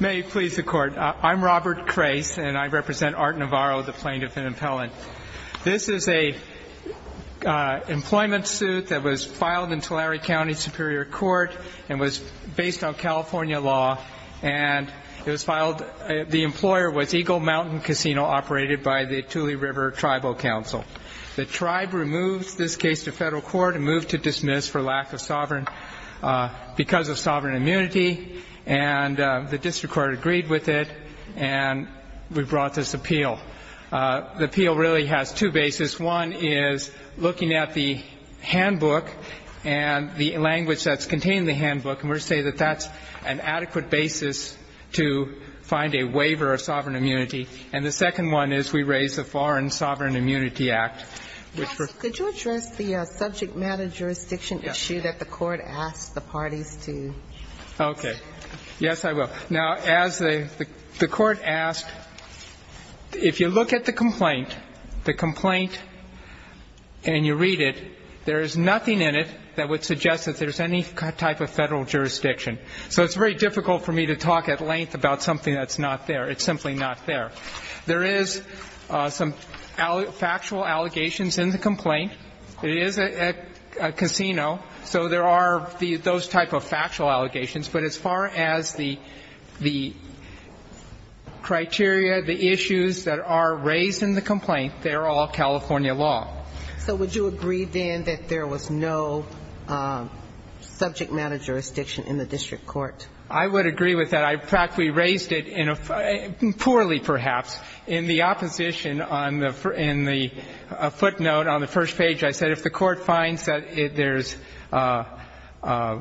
May it please the court. I'm Robert Crais and I represent Art Navarro, the plaintiff and appellant. This is a employment suit that was filed in Tulare County Superior Court and was based on California law. And it was filed, the employer was Eagle Mountain Casino, operated by the Thule River Tribal Council. The tribe removes this case to federal court and moved to dismiss for lack of sovereign, because of sovereign immunity. And the district court agreed with it and we brought this appeal. The appeal really has two bases. One is looking at the handbook and the language that's contained in the handbook. And we say that that's an adequate basis to find a waiver of sovereign immunity. And the second one is we raise the Foreign Sovereign Immunity Act. Counsel, could you address the subject matter jurisdiction issue that the court asked the parties to? Okay. Yes, I will. Now, as the court asked, if you look at the complaint, the complaint and you read it, there is nothing in it that would suggest that there's any type of federal jurisdiction. So it's very difficult for me to talk at length about something that's not there. It's simply not there. There is some factual allegations in the complaint. It is a casino, so there are those type of factual allegations. But as far as the criteria, the issues that are raised in the complaint, they are all California law. So would you agree, then, that there was no subject matter jurisdiction in the district court? I would agree with that. In fact, we raised it in a – poorly, perhaps. In the opposition, in the footnote on the first page, I said if the court finds that there's a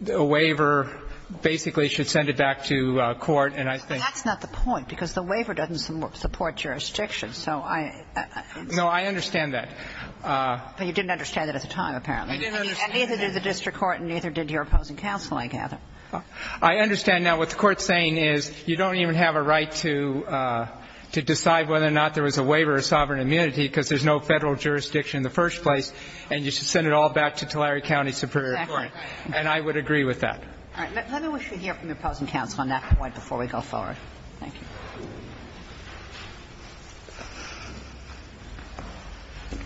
waiver, basically should send it back to court, and I think – But that's not the point, because the waiver doesn't support jurisdiction. So I – No, I understand that. But you didn't understand that at the time, apparently. I didn't understand that. And neither did the district court and neither did your opposing counsel, I gather. I understand now what the Court's saying is you don't even have a right to decide whether or not there was a waiver of sovereign immunity because there's no Federal jurisdiction in the first place, and you should send it all back to Tulare County Superior Court. Exactly. And I would agree with that. All right. Let me wish to hear from your opposing counsel on that point before we go forward. Thank you.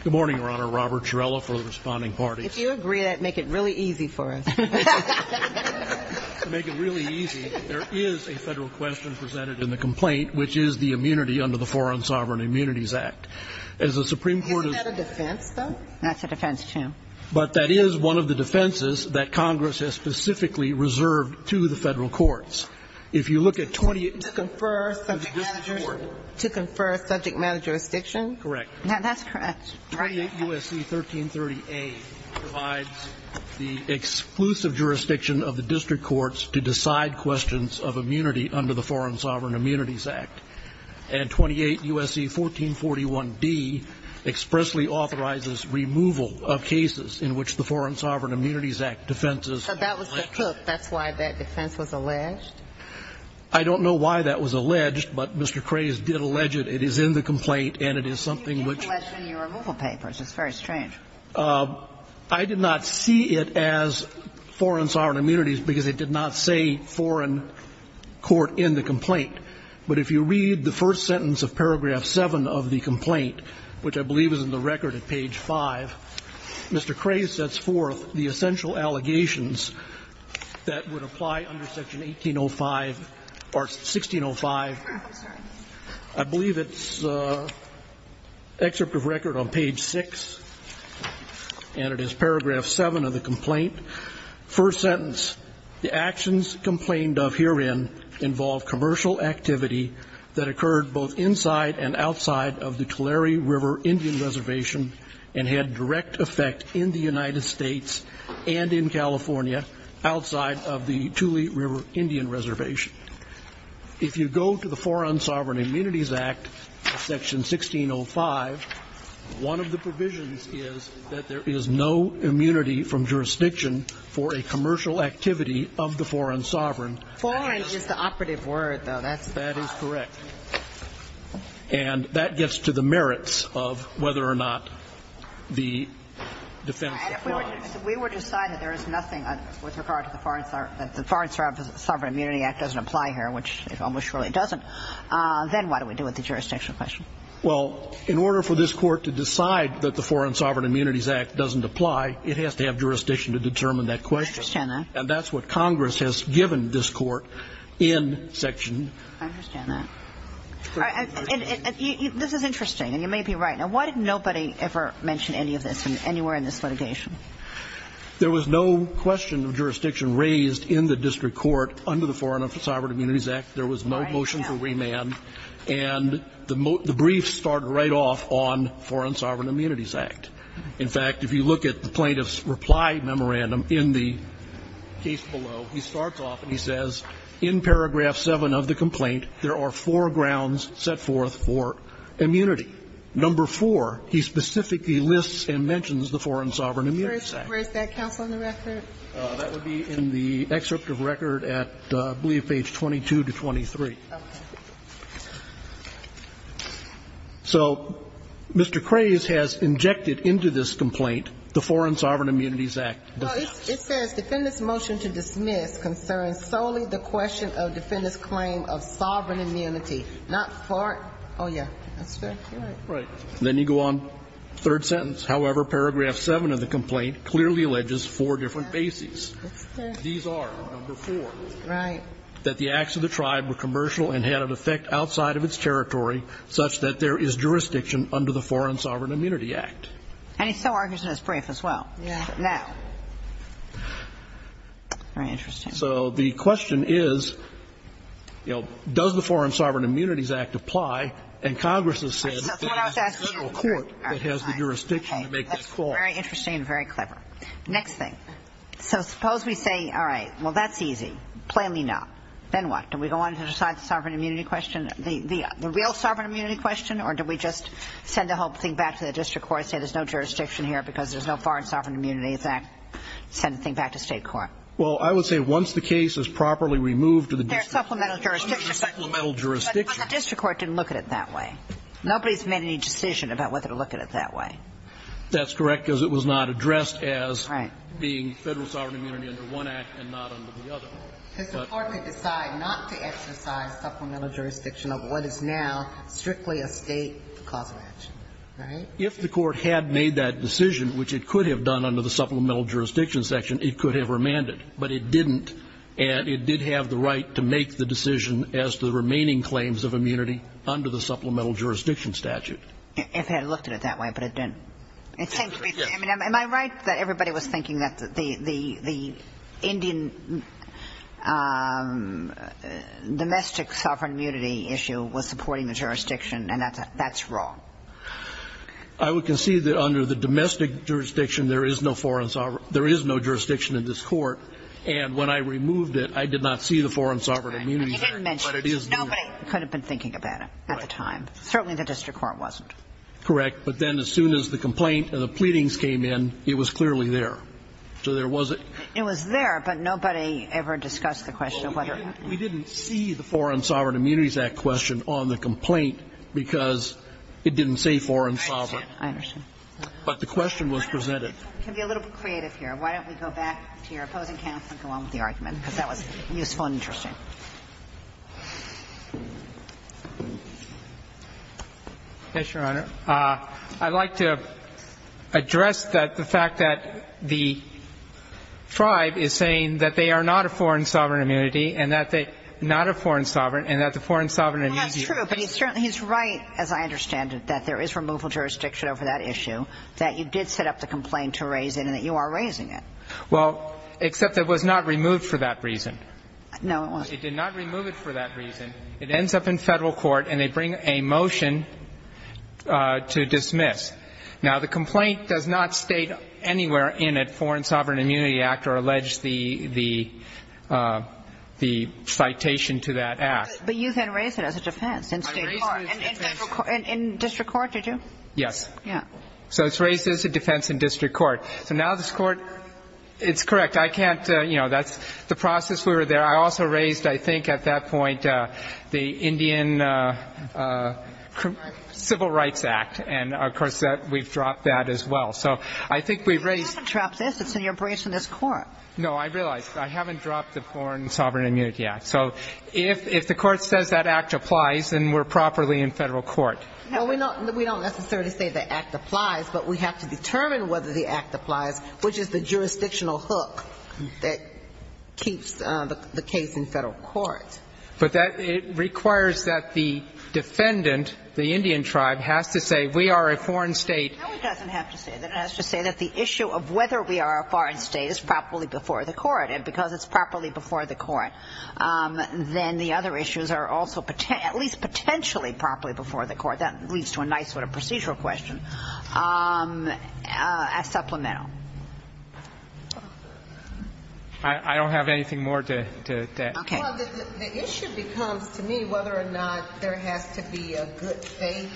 Good morning, Your Honor. Robert Turello for the Responding Parties. If you agree, that would make it really easy for us. To make it really easy, there is a Federal question presented in the complaint, which is the immunity under the Foreign Sovereign Immunities Act. As the Supreme Court has – Isn't that a defense, though? That's a defense, too. But that is one of the defenses that Congress has specifically reserved to the Federal courts. If you look at 28 – To confer subject matter – To the district court. To confer subject matter jurisdiction? Correct. That's correct. 28 U.S.C. 1330A provides the exclusive jurisdiction of the district courts to decide questions of immunity under the Foreign Sovereign Immunities Act. And 28 U.S.C. 1441D expressly authorizes removal of cases in which the Foreign Sovereign Immunities Act defenses – So that was the proof. That's why that defense was alleged? I don't know why that was alleged, but Mr. Craze did allege it. It is in the complaint, and it is something which – It was alleged in your removal papers. It's very strange. I did not see it as foreign sovereign immunities because it did not say foreign court in the complaint. But if you read the first sentence of paragraph 7 of the complaint, which I believe is in the record at page 5, Mr. Craze sets forth the essential allegations that would apply under section 1805 – or 1605. I believe it's excerpt of record on page 6, and it is paragraph 7 of the complaint. First sentence, the actions complained of herein involve commercial activity that occurred both inside and outside of the Tulare River Indian Reservation and had direct effect in the United States and in California outside of the Tule River Indian Reservation. If you go to the Foreign Sovereign Immunities Act, section 1605, one of the provisions is that there is no immunity from jurisdiction for a commercial activity of the foreign sovereign. Foreign is the operative word, though. That's – That is correct. And that gets to the merits of whether or not the defense applies. If we were to decide that there is nothing with regard to the Foreign Sovereign Immunity Act doesn't apply here, which it almost surely doesn't, then what do we do with the jurisdictional question? Well, in order for this Court to decide that the Foreign Sovereign Immunities Act doesn't apply, it has to have jurisdiction to determine that question. I understand that. And that's what Congress has given this Court in section – I understand that. And this is interesting, and you may be right. Now, why did nobody ever mention any of this anywhere in this litigation? There was no question of jurisdiction raised in the district court under the Foreign Sovereign Immunities Act. There was no motion for remand. And the brief started right off on Foreign Sovereign Immunities Act. In fact, if you look at the plaintiff's reply memorandum in the case below, he starts off and he says, in paragraph 7 of the complaint, there are four grounds set forth for immunity. Number 4, he specifically lists and mentions the Foreign Sovereign Immunities Act. Where is that, counsel, in the record? That would be in the excerpt of record at, I believe, page 22 to 23. Okay. So Mr. Craze has injected into this complaint the Foreign Sovereign Immunities Act. Well, it says, defendant's motion to dismiss concerns solely the question of defendant's claim of sovereign immunity, not foreign. Oh, yeah. That's very correct. Right. Then you go on, third sentence. However, paragraph 7 of the complaint clearly alleges four different bases. These are, number 4. Right. That the acts of the tribe were commercial and had an effect outside of its territory such that there is jurisdiction under the Foreign Sovereign Immunity Act. And he still argues in his brief as well. Now, very interesting. So the question is, you know, does the Foreign Sovereign Immunities Act apply? And Congress has said that it's the federal court that has the jurisdiction to make that call. Very interesting and very clever. Next thing. So suppose we say, all right, well, that's easy. Plainly not. Then what? Do we go on to decide the sovereign immunity question, the real sovereign immunity question, or do we just send the whole thing back to the district court and say there's no jurisdiction here because there's no foreign sovereign immunity in this act, send the thing back to state court? Well, I would say once the case is properly removed to the district court. There's supplemental jurisdiction. Supplemental jurisdiction. But the district court didn't look at it that way. Nobody's made any decision about whether to look at it that way. That's correct, because it was not addressed as being federal sovereign immunity under one act and not under the other. Because the court may decide not to exercise supplemental jurisdiction of what is now strictly a State cause of action. Right? If the court had made that decision, which it could have done under the supplemental jurisdiction section, it could have remanded. But it didn't. And it did have the right to make the decision as to the remaining claims of immunity under the supplemental jurisdiction statute. It had looked at it that way, but it didn't. It seems to be. Yes. Am I right that everybody was thinking that the Indian domestic sovereign immunity issue was supporting the jurisdiction, and that's wrong? I would concede that under the domestic jurisdiction, there is no jurisdiction in this court. And when I removed it, I did not see the foreign sovereign immunity there. But you didn't mention it. Nobody could have been thinking about it at the time. Certainly the district court wasn't. Correct. But then as soon as the complaint and the pleadings came in, it was clearly there. So there wasn't. It was there, but nobody ever discussed the question of whether or not. We didn't see the Foreign Sovereign Immunities Act question on the complaint because it didn't say foreign sovereign. I understand. I understand. But the question was presented. Can we be a little bit creative here? Why don't we go back to your opposing counsel and go on with the argument? Because that was useful and interesting. Yes, Your Honor. I'd like to address the fact that the tribe is saying that they are not a foreign sovereign immunity and that they're not a foreign sovereign and that the foreign And I think it's right, as I understand it, that there is removal jurisdiction over that issue, that you did set up the complaint to raise it and that you are raising it. Well, except it was not removed for that reason. No, it wasn't. It did not remove it for that reason. It ends up in Federal court and they bring a motion to dismiss. Now, the complaint does not state anywhere in it foreign sovereign immunity under the act or allege the citation to that act. But you then raised it as a defense in state court. I raised it as a defense. In district court, did you? Yes. Yeah. So it's raised as a defense in district court. So now this court, it's correct. I can't, you know, that's the process we were there. I also raised, I think, at that point, the Indian Civil Rights Act. And, of course, we've dropped that as well. So I think we've raised You haven't dropped this. It's in your briefs in this Court. No, I realize. I haven't dropped the Foreign Sovereign Immunity Act. So if the Court says that act applies, then we're properly in Federal court. Well, we don't necessarily say the act applies, but we have to determine whether the act applies, which is the jurisdictional hook that keeps the case in Federal court. But that requires that the defendant, the Indian tribe, has to say we are a foreign state. No, it doesn't have to say that. It has to say that the issue of whether we are a foreign state is properly before the court. And because it's properly before the court, then the other issues are also at least potentially properly before the court. That leads to a nice sort of procedural question. As supplemental. I don't have anything more to add. Okay. Well, the issue becomes, to me, whether or not there has to be a good faith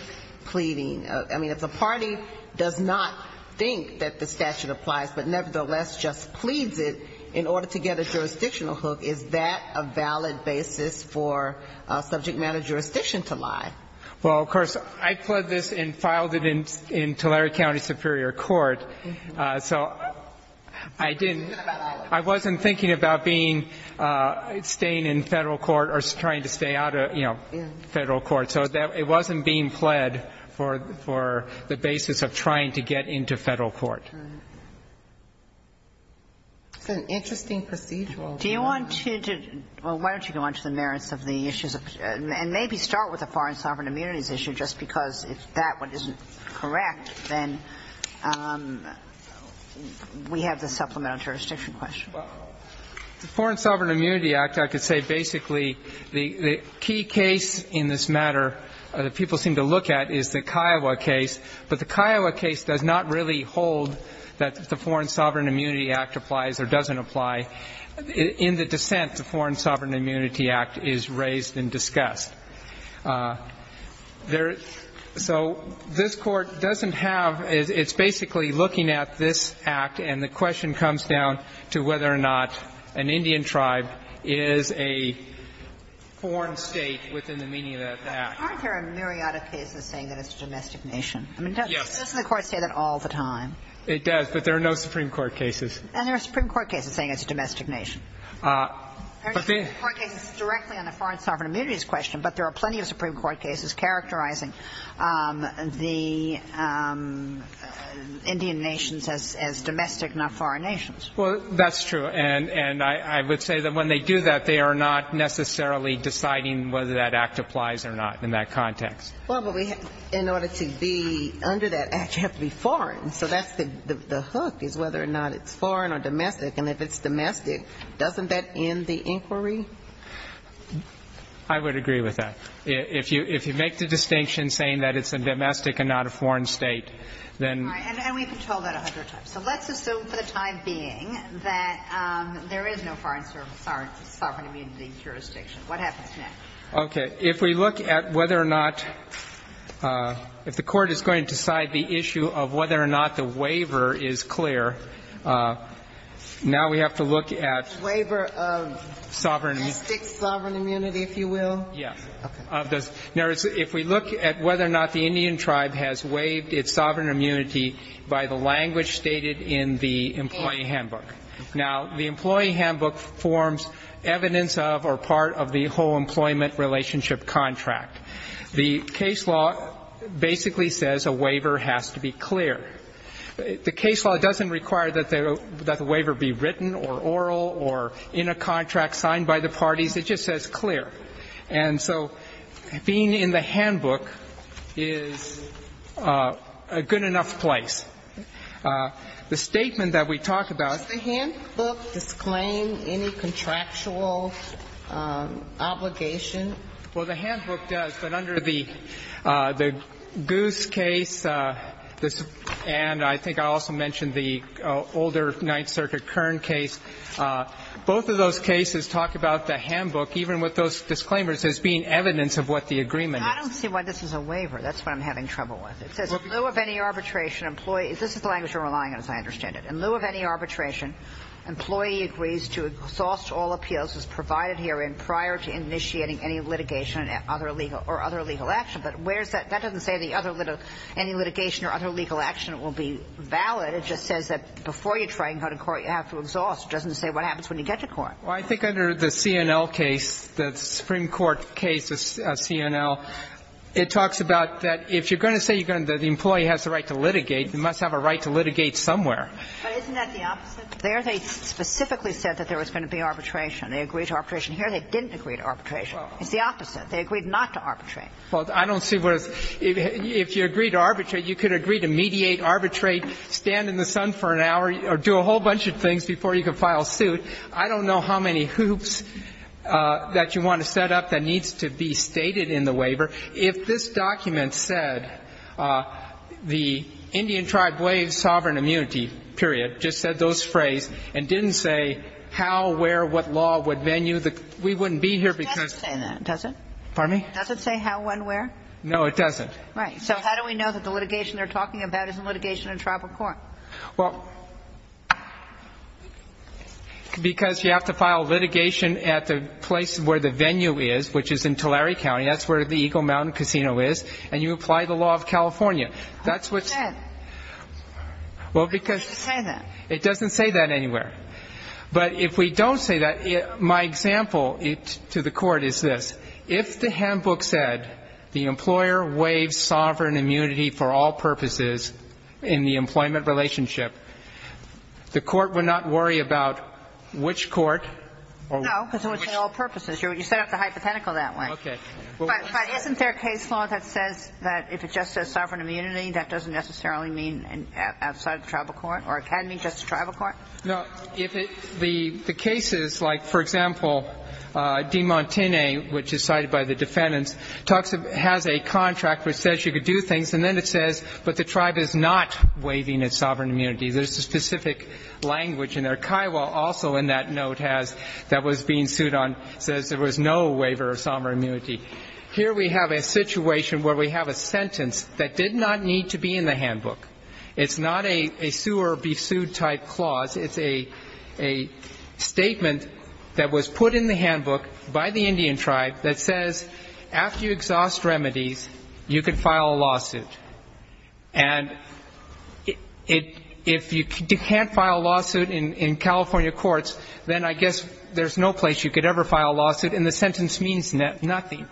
pleading. I mean, if the party does not think that the statute applies, but nevertheless just pleads it in order to get a jurisdictional hook, is that a valid basis for subject matter jurisdiction to lie? Well, of course, I pled this and filed it in Tulare County Superior Court. So I didn't. I wasn't thinking about being, staying in Federal court or trying to stay out of, you know, Federal court. So it wasn't being pled for the basis of trying to get into Federal court. It's an interesting procedural. Do you want to, well, why don't you go on to the merits of the issues of, and maybe start with the Foreign Sovereign Immunities issue, just because if that one isn't correct, then we have the supplemental jurisdiction question. Well, the Foreign Sovereign Immunity Act, I could say basically the key case in this matter that people seem to look at is the Kiowa case. But the Kiowa case does not really hold that the Foreign Sovereign Immunity Act applies or doesn't apply. In the dissent, the Foreign Sovereign Immunity Act is raised and discussed. There, so this Court doesn't have, it's basically looking at this Act and the question comes down to whether or not an Indian tribe is a foreign state within the meaning of that Act. Aren't there a myriad of cases saying that it's a domestic nation? Yes. I mean, doesn't the Court say that all the time? It does, but there are no Supreme Court cases. And there are Supreme Court cases saying it's a domestic nation. There are no Supreme Court cases directly on the Foreign Sovereign Immunities question, but there are plenty of Supreme Court cases characterizing the Indian nations as domestic, not foreign nations. Well, that's true. And I would say that when they do that, they are not necessarily deciding whether that Act applies or not in that context. Well, but we, in order to be under that Act, you have to be foreign. So that's the hook, is whether or not it's foreign or domestic. And if it's domestic, doesn't that end the inquiry? I would agree with that. If you make the distinction saying that it's a domestic and not a foreign state, then you're right. And we've been told that a hundred times. So let's assume for the time being that there is no foreign sovereign immunity jurisdiction. What happens next? Okay. If we look at whether or not the Court is going to decide the issue of whether or not the waiver is clear, now we have to look at sovereign immunity. Waiver of domestic sovereign immunity, if you will? Yes. Now, if we look at whether or not the Indian tribe has waived its sovereign immunity by the language stated in the employee handbook. Now, the employee handbook forms evidence of or part of the whole employment relationship contract. The case law basically says a waiver has to be clear. The case law doesn't require that the waiver be written or oral or in a contract signed by the parties. It just says clear. And so being in the handbook is a good enough place. The statement that we talk about. Does the handbook disclaim any contractual obligation? Well, the handbook does. But under the Goose case and I think I also mentioned the older Ninth Circuit Kern case, both of those cases talk about the handbook, even with those disclaimers, as being evidence of what the agreement is. I don't see why this is a waiver. That's what I'm having trouble with. It says in lieu of any arbitration, employee. This is the language you're relying on, as I understand it. In lieu of any arbitration, employee agrees to exhaust all appeals as provided herein prior to initiating any litigation or other legal action. But where is that? That doesn't say the other any litigation or other legal action will be valid. It just says that before you try and go to court, you have to exhaust. It doesn't say what happens when you get to court. Well, I think under the C&L case, the Supreme Court case, C&L, it talks about that And if you're going to say the employee has the right to litigate, you must have a right to litigate somewhere. But isn't that the opposite? There they specifically said that there was going to be arbitration. They agreed to arbitration. Here they didn't agree to arbitration. It's the opposite. They agreed not to arbitrate. Well, I don't see what it's – if you agree to arbitrate, you could agree to mediate, arbitrate, stand in the sun for an hour or do a whole bunch of things before you could file suit. I don't know how many hoops that you want to set up that needs to be stated in the waiver. If this document said the Indian tribe waived sovereign immunity, period, just said those phrase and didn't say how, where, what law, what venue, we wouldn't be here because – It doesn't say that, does it? Pardon me? Does it say how, when, where? No, it doesn't. Right. So how do we know that the litigation they're talking about isn't litigation in tribal court? Well, because you have to file litigation at the place where the venue is, which is in Tulare County. That's where the Eagle Mountain Casino is. And you apply the law of California. That's what's – How does it say that? Well, because – How does it say that? It doesn't say that anywhere. But if we don't say that, my example to the Court is this. If the handbook said the employer waived sovereign immunity for all purposes in the employment relationship, the Court would not worry about which court or which – No, because it would say all purposes. You set up the hypothetical that way. Okay. But isn't there a case law that says that if it just says sovereign immunity, that doesn't necessarily mean outside the tribal court or it can mean just the tribal court? No. If it – the cases, like, for example, DiMontine, which is cited by the defendants, talks – has a contract which says you could do things, and then it says, but the tribe is not waiving its sovereign immunity. There's a specific language in there. Here we have a situation where we have a sentence that did not need to be in the handbook. It's not a sue-or-be-sued type clause. It's a statement that was put in the handbook by the Indian tribe that says after you exhaust remedies, you can file a lawsuit. And if you can't file a lawsuit in California courts, then I can't file a lawsuit And I guess there's no place you could ever file a lawsuit, and the sentence means nothing.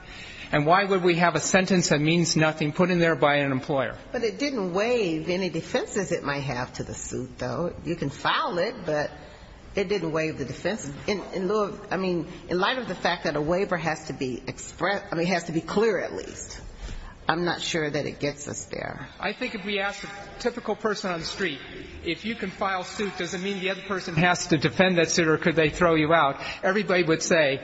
And why would we have a sentence that means nothing put in there by an employer? But it didn't waive any defenses it might have to the suit, though. You can file it, but it didn't waive the defense. In lieu of – I mean, in light of the fact that a waiver has to be – I mean, it has to be clear, at least. I'm not sure that it gets us there. I think if we ask a typical person on the street, if you can file suit, does it throw you out, everybody would say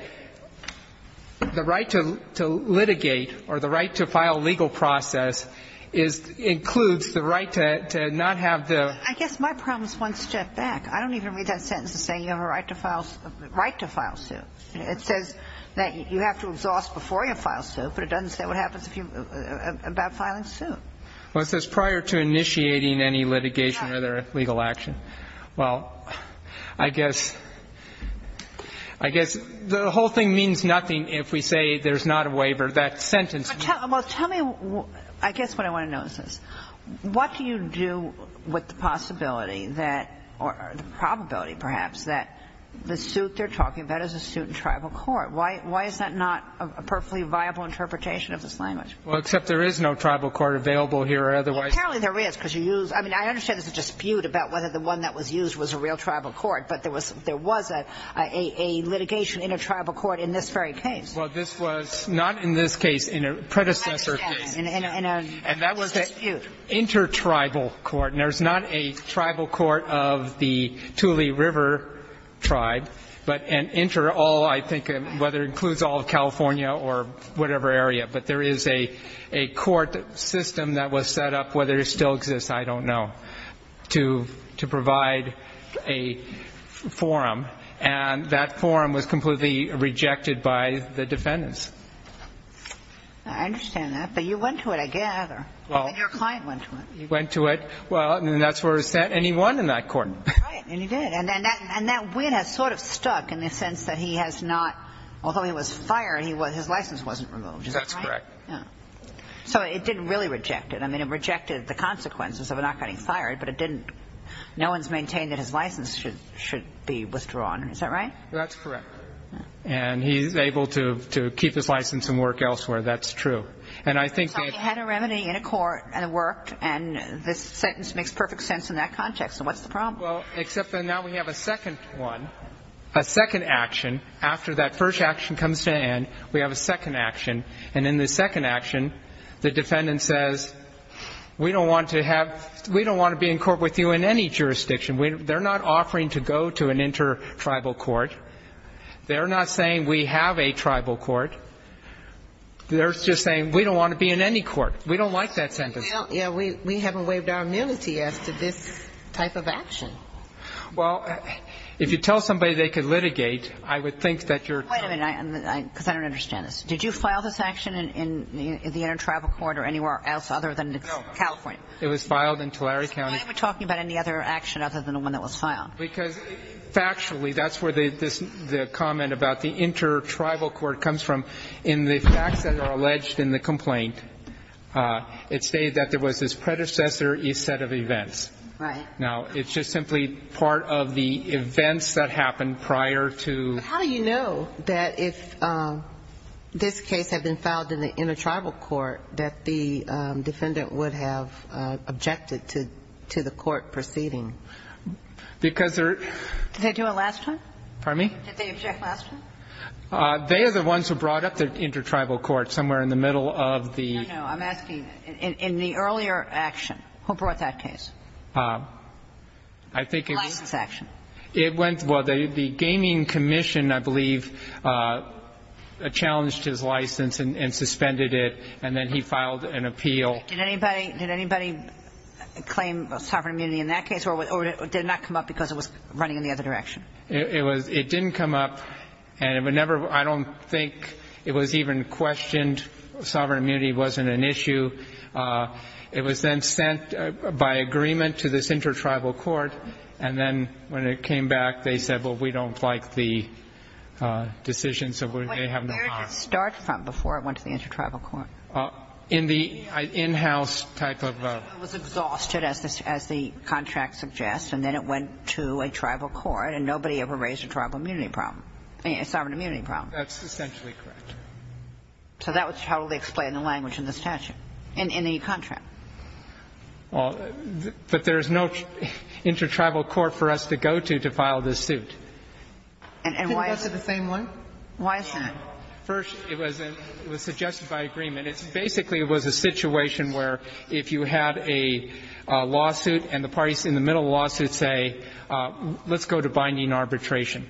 the right to litigate or the right to file legal process is – includes the right to not have the – I guess my problem is one step back. I don't even read that sentence as saying you have a right to file – right to file suit. It says that you have to exhaust before you file suit, but it doesn't say what happens if you – about filing suit. Well, it says prior to initiating any litigation or other legal action. Well, I guess – I guess the whole thing means nothing if we say there's not a waiver. That sentence means nothing. Well, tell me – I guess what I want to know is this. What do you do with the possibility that – or the probability, perhaps, that the suit they're talking about is a suit in tribal court? Why is that not a perfectly viable interpretation of this language? Well, except there is no tribal court available here or otherwise. Well, apparently there is, because you use – I mean, I understand there's a dispute about whether the one that was used was a real tribal court, but there was a litigation in a tribal court in this very case. Well, this was not in this case. In a predecessor case. I understand. In a dispute. And that was an intertribal court. And there's not a tribal court of the Thule River tribe, but an interall, I think, whether it includes all of California or whatever area. But there is a court system that was set up, whether it still exists, I don't know, to provide a forum, and that forum was completely rejected by the defendants. I understand that. But you went to it, I gather. Well. And your client went to it. He went to it. Well, and that's where it was sent, and he won in that court. Right. And he did. And that win has sort of stuck in the sense that he has not – although he was fired, his license wasn't removed. That's correct. Yeah. So it didn't really reject it. I mean, it rejected the consequences of not getting fired, but it didn't – no one's maintained that his license should be withdrawn. Is that right? That's correct. And he's able to keep his license and work elsewhere. That's true. And I think that – So he had a remedy in a court, and it worked, and this sentence makes perfect sense in that context. So what's the problem? Well, except that now we have a second one, a second action. After that first action comes to an end, we have a second action. And in the second action, the defendant says, we don't want to have – we don't want to be in court with you in any jurisdiction. They're not offering to go to an intertribal court. They're not saying we have a tribal court. They're just saying we don't want to be in any court. We don't like that sentence. Yeah. We haven't waived our immunity as to this type of action. Well, if you tell somebody they could litigate, I would think that you're – Wait a minute. Because I don't understand this. Did you file this action in the intertribal court or anywhere else other than California? No. It was filed in Tulare County. Why are you talking about any other action other than the one that was filed? Because factually, that's where the comment about the intertribal court comes from. In the facts that are alleged in the complaint, it stated that there was this predecessor set of events. Right. Now, it's just simply part of the events that happened prior to – How do you know that if this case had been filed in the intertribal court that the defendant would have objected to the court proceeding? Because they're – Did they do it last time? Pardon me? Did they object last time? They are the ones who brought up the intertribal court somewhere in the middle of the – No, no. I'm asking in the earlier action, who brought that case? I think it was – The license action. It went – well, the gaming commission, I believe, challenged his license and suspended it, and then he filed an appeal. Did anybody claim sovereign immunity in that case, or did it not come up because it was running in the other direction? It didn't come up, and it would never – I don't think it was even questioned. Sovereign immunity wasn't an issue. It was then sent by agreement to this intertribal court, and then when it came back, they said, well, we don't like the decision, so we may have no harm. Where did it start from before it went to the intertribal court? In the in-house type of – It was exhausted, as the contract suggests, and then it went to a tribal court, and nobody ever raised a tribal immunity problem – a sovereign immunity problem. That's essentially correct. So that would totally explain the language in the statute, in any contract. Well, but there is no intertribal court for us to go to to file this suit. Can we go to the same one? Why is that? First, it was suggested by agreement. It basically was a situation where if you had a lawsuit and the parties in the middle of the lawsuit say, let's go to binding arbitration.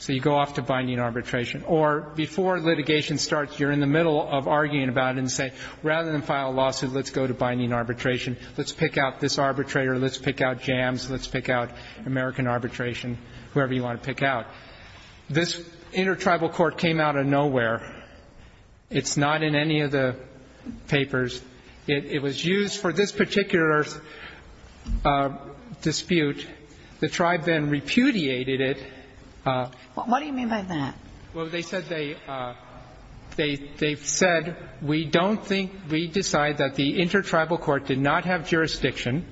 So you go off to binding arbitration. Or before litigation starts, you're in the middle of arguing about it and say, rather than file a lawsuit, let's go to binding arbitration. Let's pick out this arbitrator. Let's pick out Jams. Let's pick out American arbitration, whoever you want to pick out. This intertribal court came out of nowhere. It's not in any of the papers. It was used for this particular dispute. The tribe then repudiated it. What do you mean by that? Well, they said they said, we don't think we decide that the intertribal court did not have jurisdiction,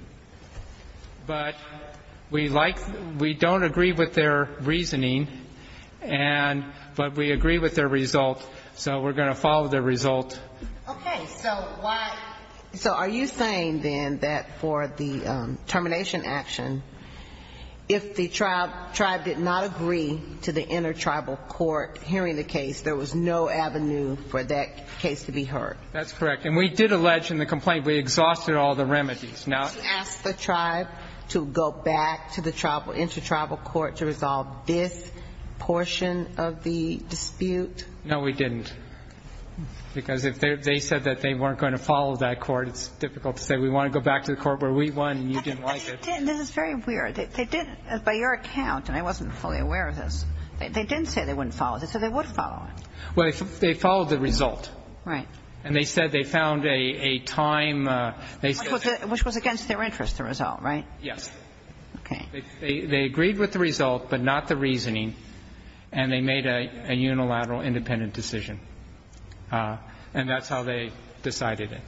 but we like we don't agree with their reasoning, and but we agree with their result, so we're going to follow their result. Okay. So why? So are you saying then that for the termination action, if the tribe did not agree to the intertribal court hearing the case, there was no avenue for that case to be heard? That's correct. And we did allege in the complaint we exhausted all the remedies. She asked the tribe to go back to the intertribal court to resolve this portion of the dispute. No, we didn't. Because if they said that they weren't going to follow that court, it's difficult to say we want to go back to the court where we won and you didn't like it. This is very weird. They did, by your account, and I wasn't fully aware of this, they didn't say they wouldn't follow it. They said they would follow it. Well, they followed the result. Right. And they said they found a time. Which was against their interest, the result, right? Yes. Okay. They agreed with the result, but not the reasoning, and they made a unilateral independent decision. And that's how they decided it.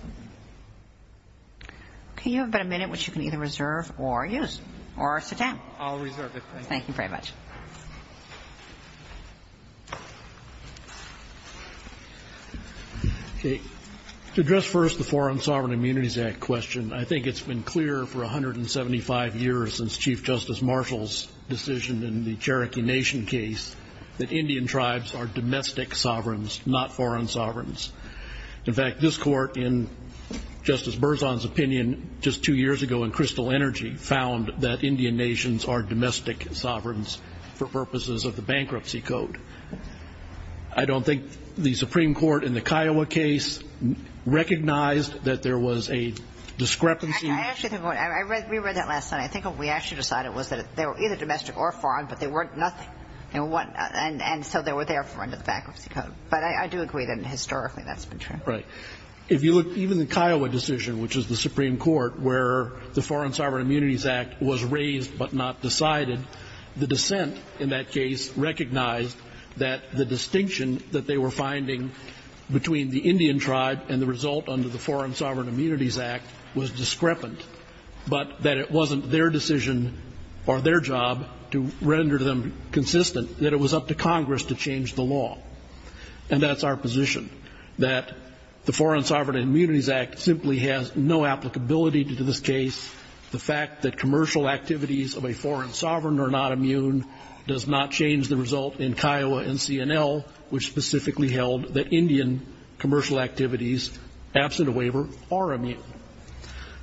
Okay. You have about a minute, which you can either reserve or use. Or sit down. I'll reserve it. Thank you. Thank you very much. Okay. To address first the Foreign Sovereign Immunities Act question, I think it's been clear for 175 years since Chief Justice Marshall's decision in the Cherokee Nation case that Indian tribes are domestic sovereigns, not foreign sovereigns. In fact, this court, in Justice Berzon's opinion just two years ago in Crystal Energy, found that Indian nations are domestic sovereigns for purposes of the Bankruptcy Code. I don't think the Supreme Court in the Kiowa case recognized that there was a discrepancy. Actually, we read that last night. I think what we actually decided was that they were either domestic or foreign, but they weren't nothing. And so they were therefore under the Bankruptcy Code. But I do agree that historically that's been true. Right. If you look, even the Kiowa decision, which is the Supreme Court, where the Foreign Sovereign Immunities Act was raised but not decided, the dissent in that case recognized that the distinction that they were finding between the Indian tribe and the result under the Foreign Sovereign Immunities Act was discrepant, but that it wasn't their decision or their job to render them consistent, that it was up to Congress to change the law. And that's our position, that the Foreign Sovereign Immunities Act simply has no applicability to this case. The fact that commercial activities of a foreign sovereign are not immune does not change the result in Kiowa and CNL, which specifically held that Indian commercial activities, absent a waiver, are immune.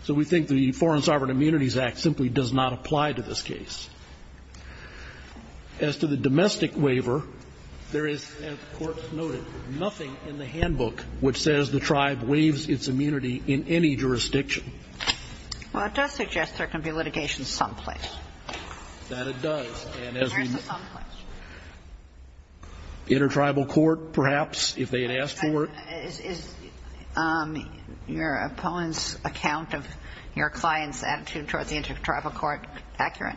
So we think the Foreign Sovereign Immunities Act simply does not apply to this case. As to the domestic waiver, there is, as the Court noted, nothing in the handbook which says the tribe waives its immunity in any jurisdiction. Well, it does suggest there can be litigation someplace. That it does. And as we need. There's a someplace. Intertribal court, perhaps, if they had asked for it. Is your opponent's account of your client's attitude towards the intertribal court accurate?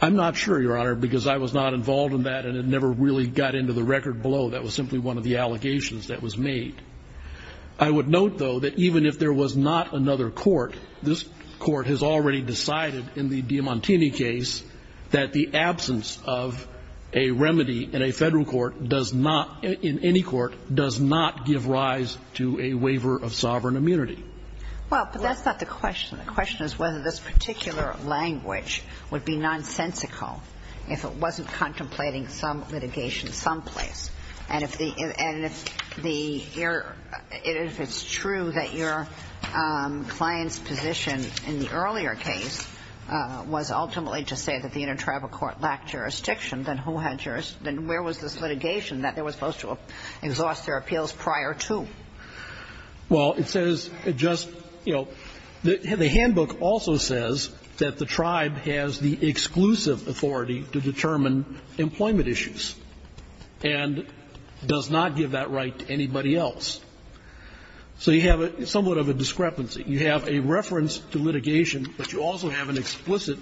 I'm not sure, Your Honor, because I was not involved in that and it never really got into the record below. That was simply one of the allegations that was made. I would note, though, that even if there was not another court, this court has already decided in the Diamantini case that the absence of a remedy in a federal court does not, in any court, does not give rise to a waiver of sovereign immunity. Well, but that's not the question. The question is whether this particular language would be nonsensical if it wasn't contemplating some litigation someplace. And if the error, if it's true that your client's position in the earlier case was ultimately to say that the intertribal court lacked jurisdiction, then who had jurisdiction? Then where was this litigation that they were supposed to exhaust their appeals prior to? Well, it says it just, you know, the handbook also says that the tribe has the exclusive authority to determine employment issues and does not give that right to anybody else. So you have somewhat of a discrepancy. You have a reference to litigation, but you also have an explicit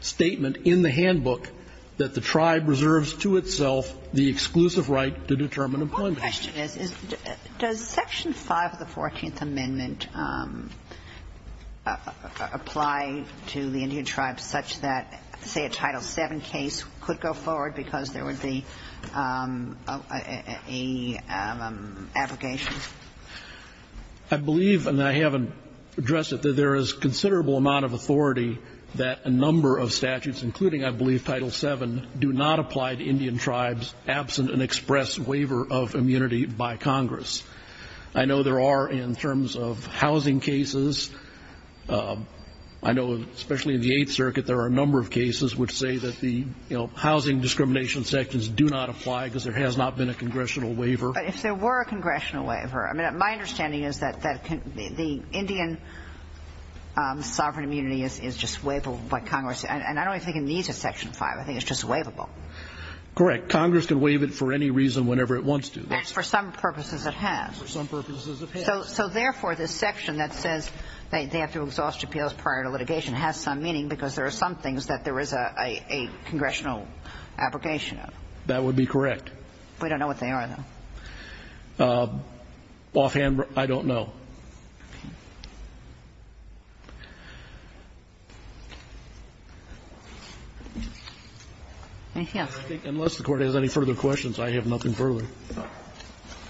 statement in the handbook that the tribe reserves to itself the exclusive right to determine employment issues. My question is, does Section 5 of the Fourteenth Amendment apply to the Indian tribes such that, say, a Title VII case could go forward because there would be a abrogation? I believe, and I haven't addressed it, that there is considerable amount of authority that a number of statutes, including, I believe, Title VII, do not apply to Indian sovereign immunity by Congress. I know there are, in terms of housing cases, I know especially in the Eighth Circuit there are a number of cases which say that the, you know, housing discrimination sections do not apply because there has not been a congressional waiver. But if there were a congressional waiver, I mean, my understanding is that the Indian sovereign immunity is just waivable by Congress. And I don't even think it needs a Section 5. I think it's just waivable. Correct. Congress can waive it for any reason whenever it wants to. That's for some purposes it has. For some purposes it has. So, therefore, this section that says they have to exhaust appeals prior to litigation has some meaning because there are some things that there is a congressional abrogation of. That would be correct. We don't know what they are, though. Offhand, I don't know. Okay. Anything else? Unless the Court has any further questions, I have nothing further.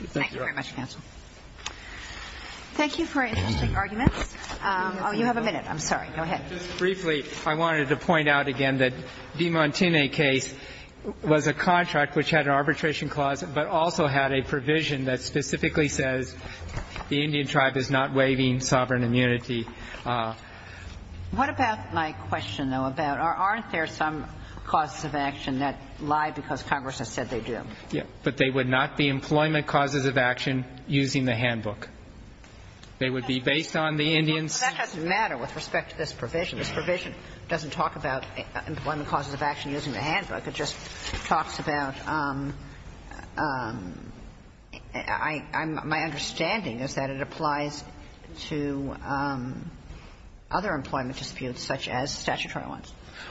Thank you, Your Honor. Thank you very much, counsel. Thank you for your interesting arguments. Oh, you have a minute. I'm sorry. Go ahead. Just briefly, I wanted to point out again that the Montaigne case was a contract which had an arbitration clause but also had a provision that specifically says the Indian tribe is not waiving sovereign immunity. What about my question, though, about aren't there some causes of action that lie because Congress has said they do? Yes. But they would not be employment causes of action using the handbook. They would be based on the Indians. That doesn't matter with respect to this provision.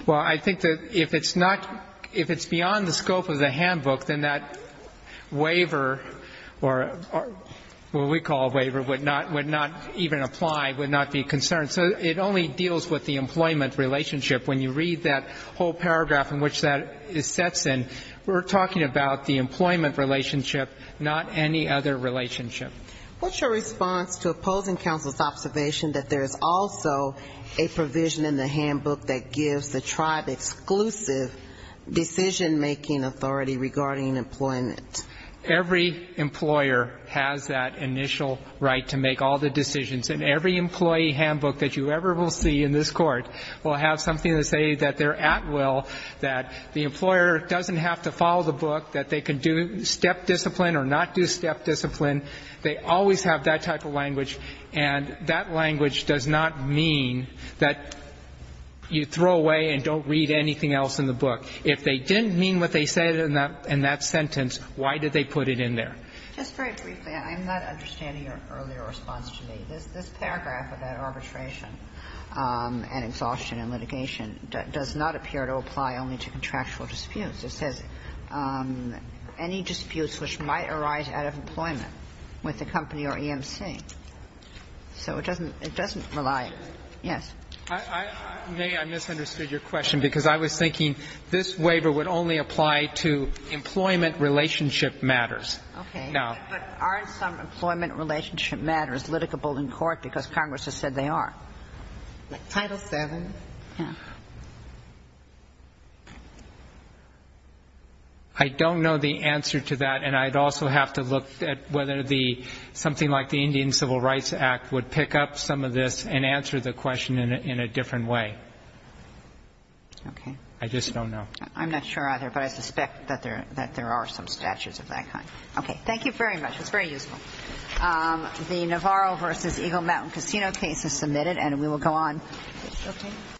Well, I think that if it's not, if it's beyond the scope of the handbook, then that waiver, or what we call a waiver, would not even apply, would not be a concern. So it only deals with the employment relationship when you read that whole paragraph that it sets in, we're talking about the employment relationship, not any other relationship. What's your response to opposing counsel's observation that there is also a provision in the handbook that gives the tribe exclusive decision-making authority regarding employment? Every employer has that initial right to make all the decisions, and every employee handbook that you ever will see in this Court will have something to say that they're at will, that the employer doesn't have to follow the book, that they can do step discipline or not do step discipline. They always have that type of language, and that language does not mean that you throw away and don't read anything else in the book. If they didn't mean what they said in that sentence, why did they put it in there? Just very briefly, I'm not understanding your earlier response to me. This paragraph about arbitration and exhaustion and litigation does not appear to apply only to contractual disputes. It says, any disputes which might arise out of employment with the company or EMC. So it doesn't rely on it. Yes. I misunderstood your question because I was thinking this waiver would only apply to employment relationship matters. Okay. But aren't some employment relationship matters litigable in court because Congress has said they are? Title VII. Yes. I don't know the answer to that, and I'd also have to look at whether something like the Indian Civil Rights Act would pick up some of this and answer the question in a different way. Okay. I just don't know. I'm not sure either, but I suspect that there are some statutes of that kind. Okay. Thank you very much. That's very useful. The Navarro v. Eagle Mountain Casino case is submitted, and we will go on. Okay.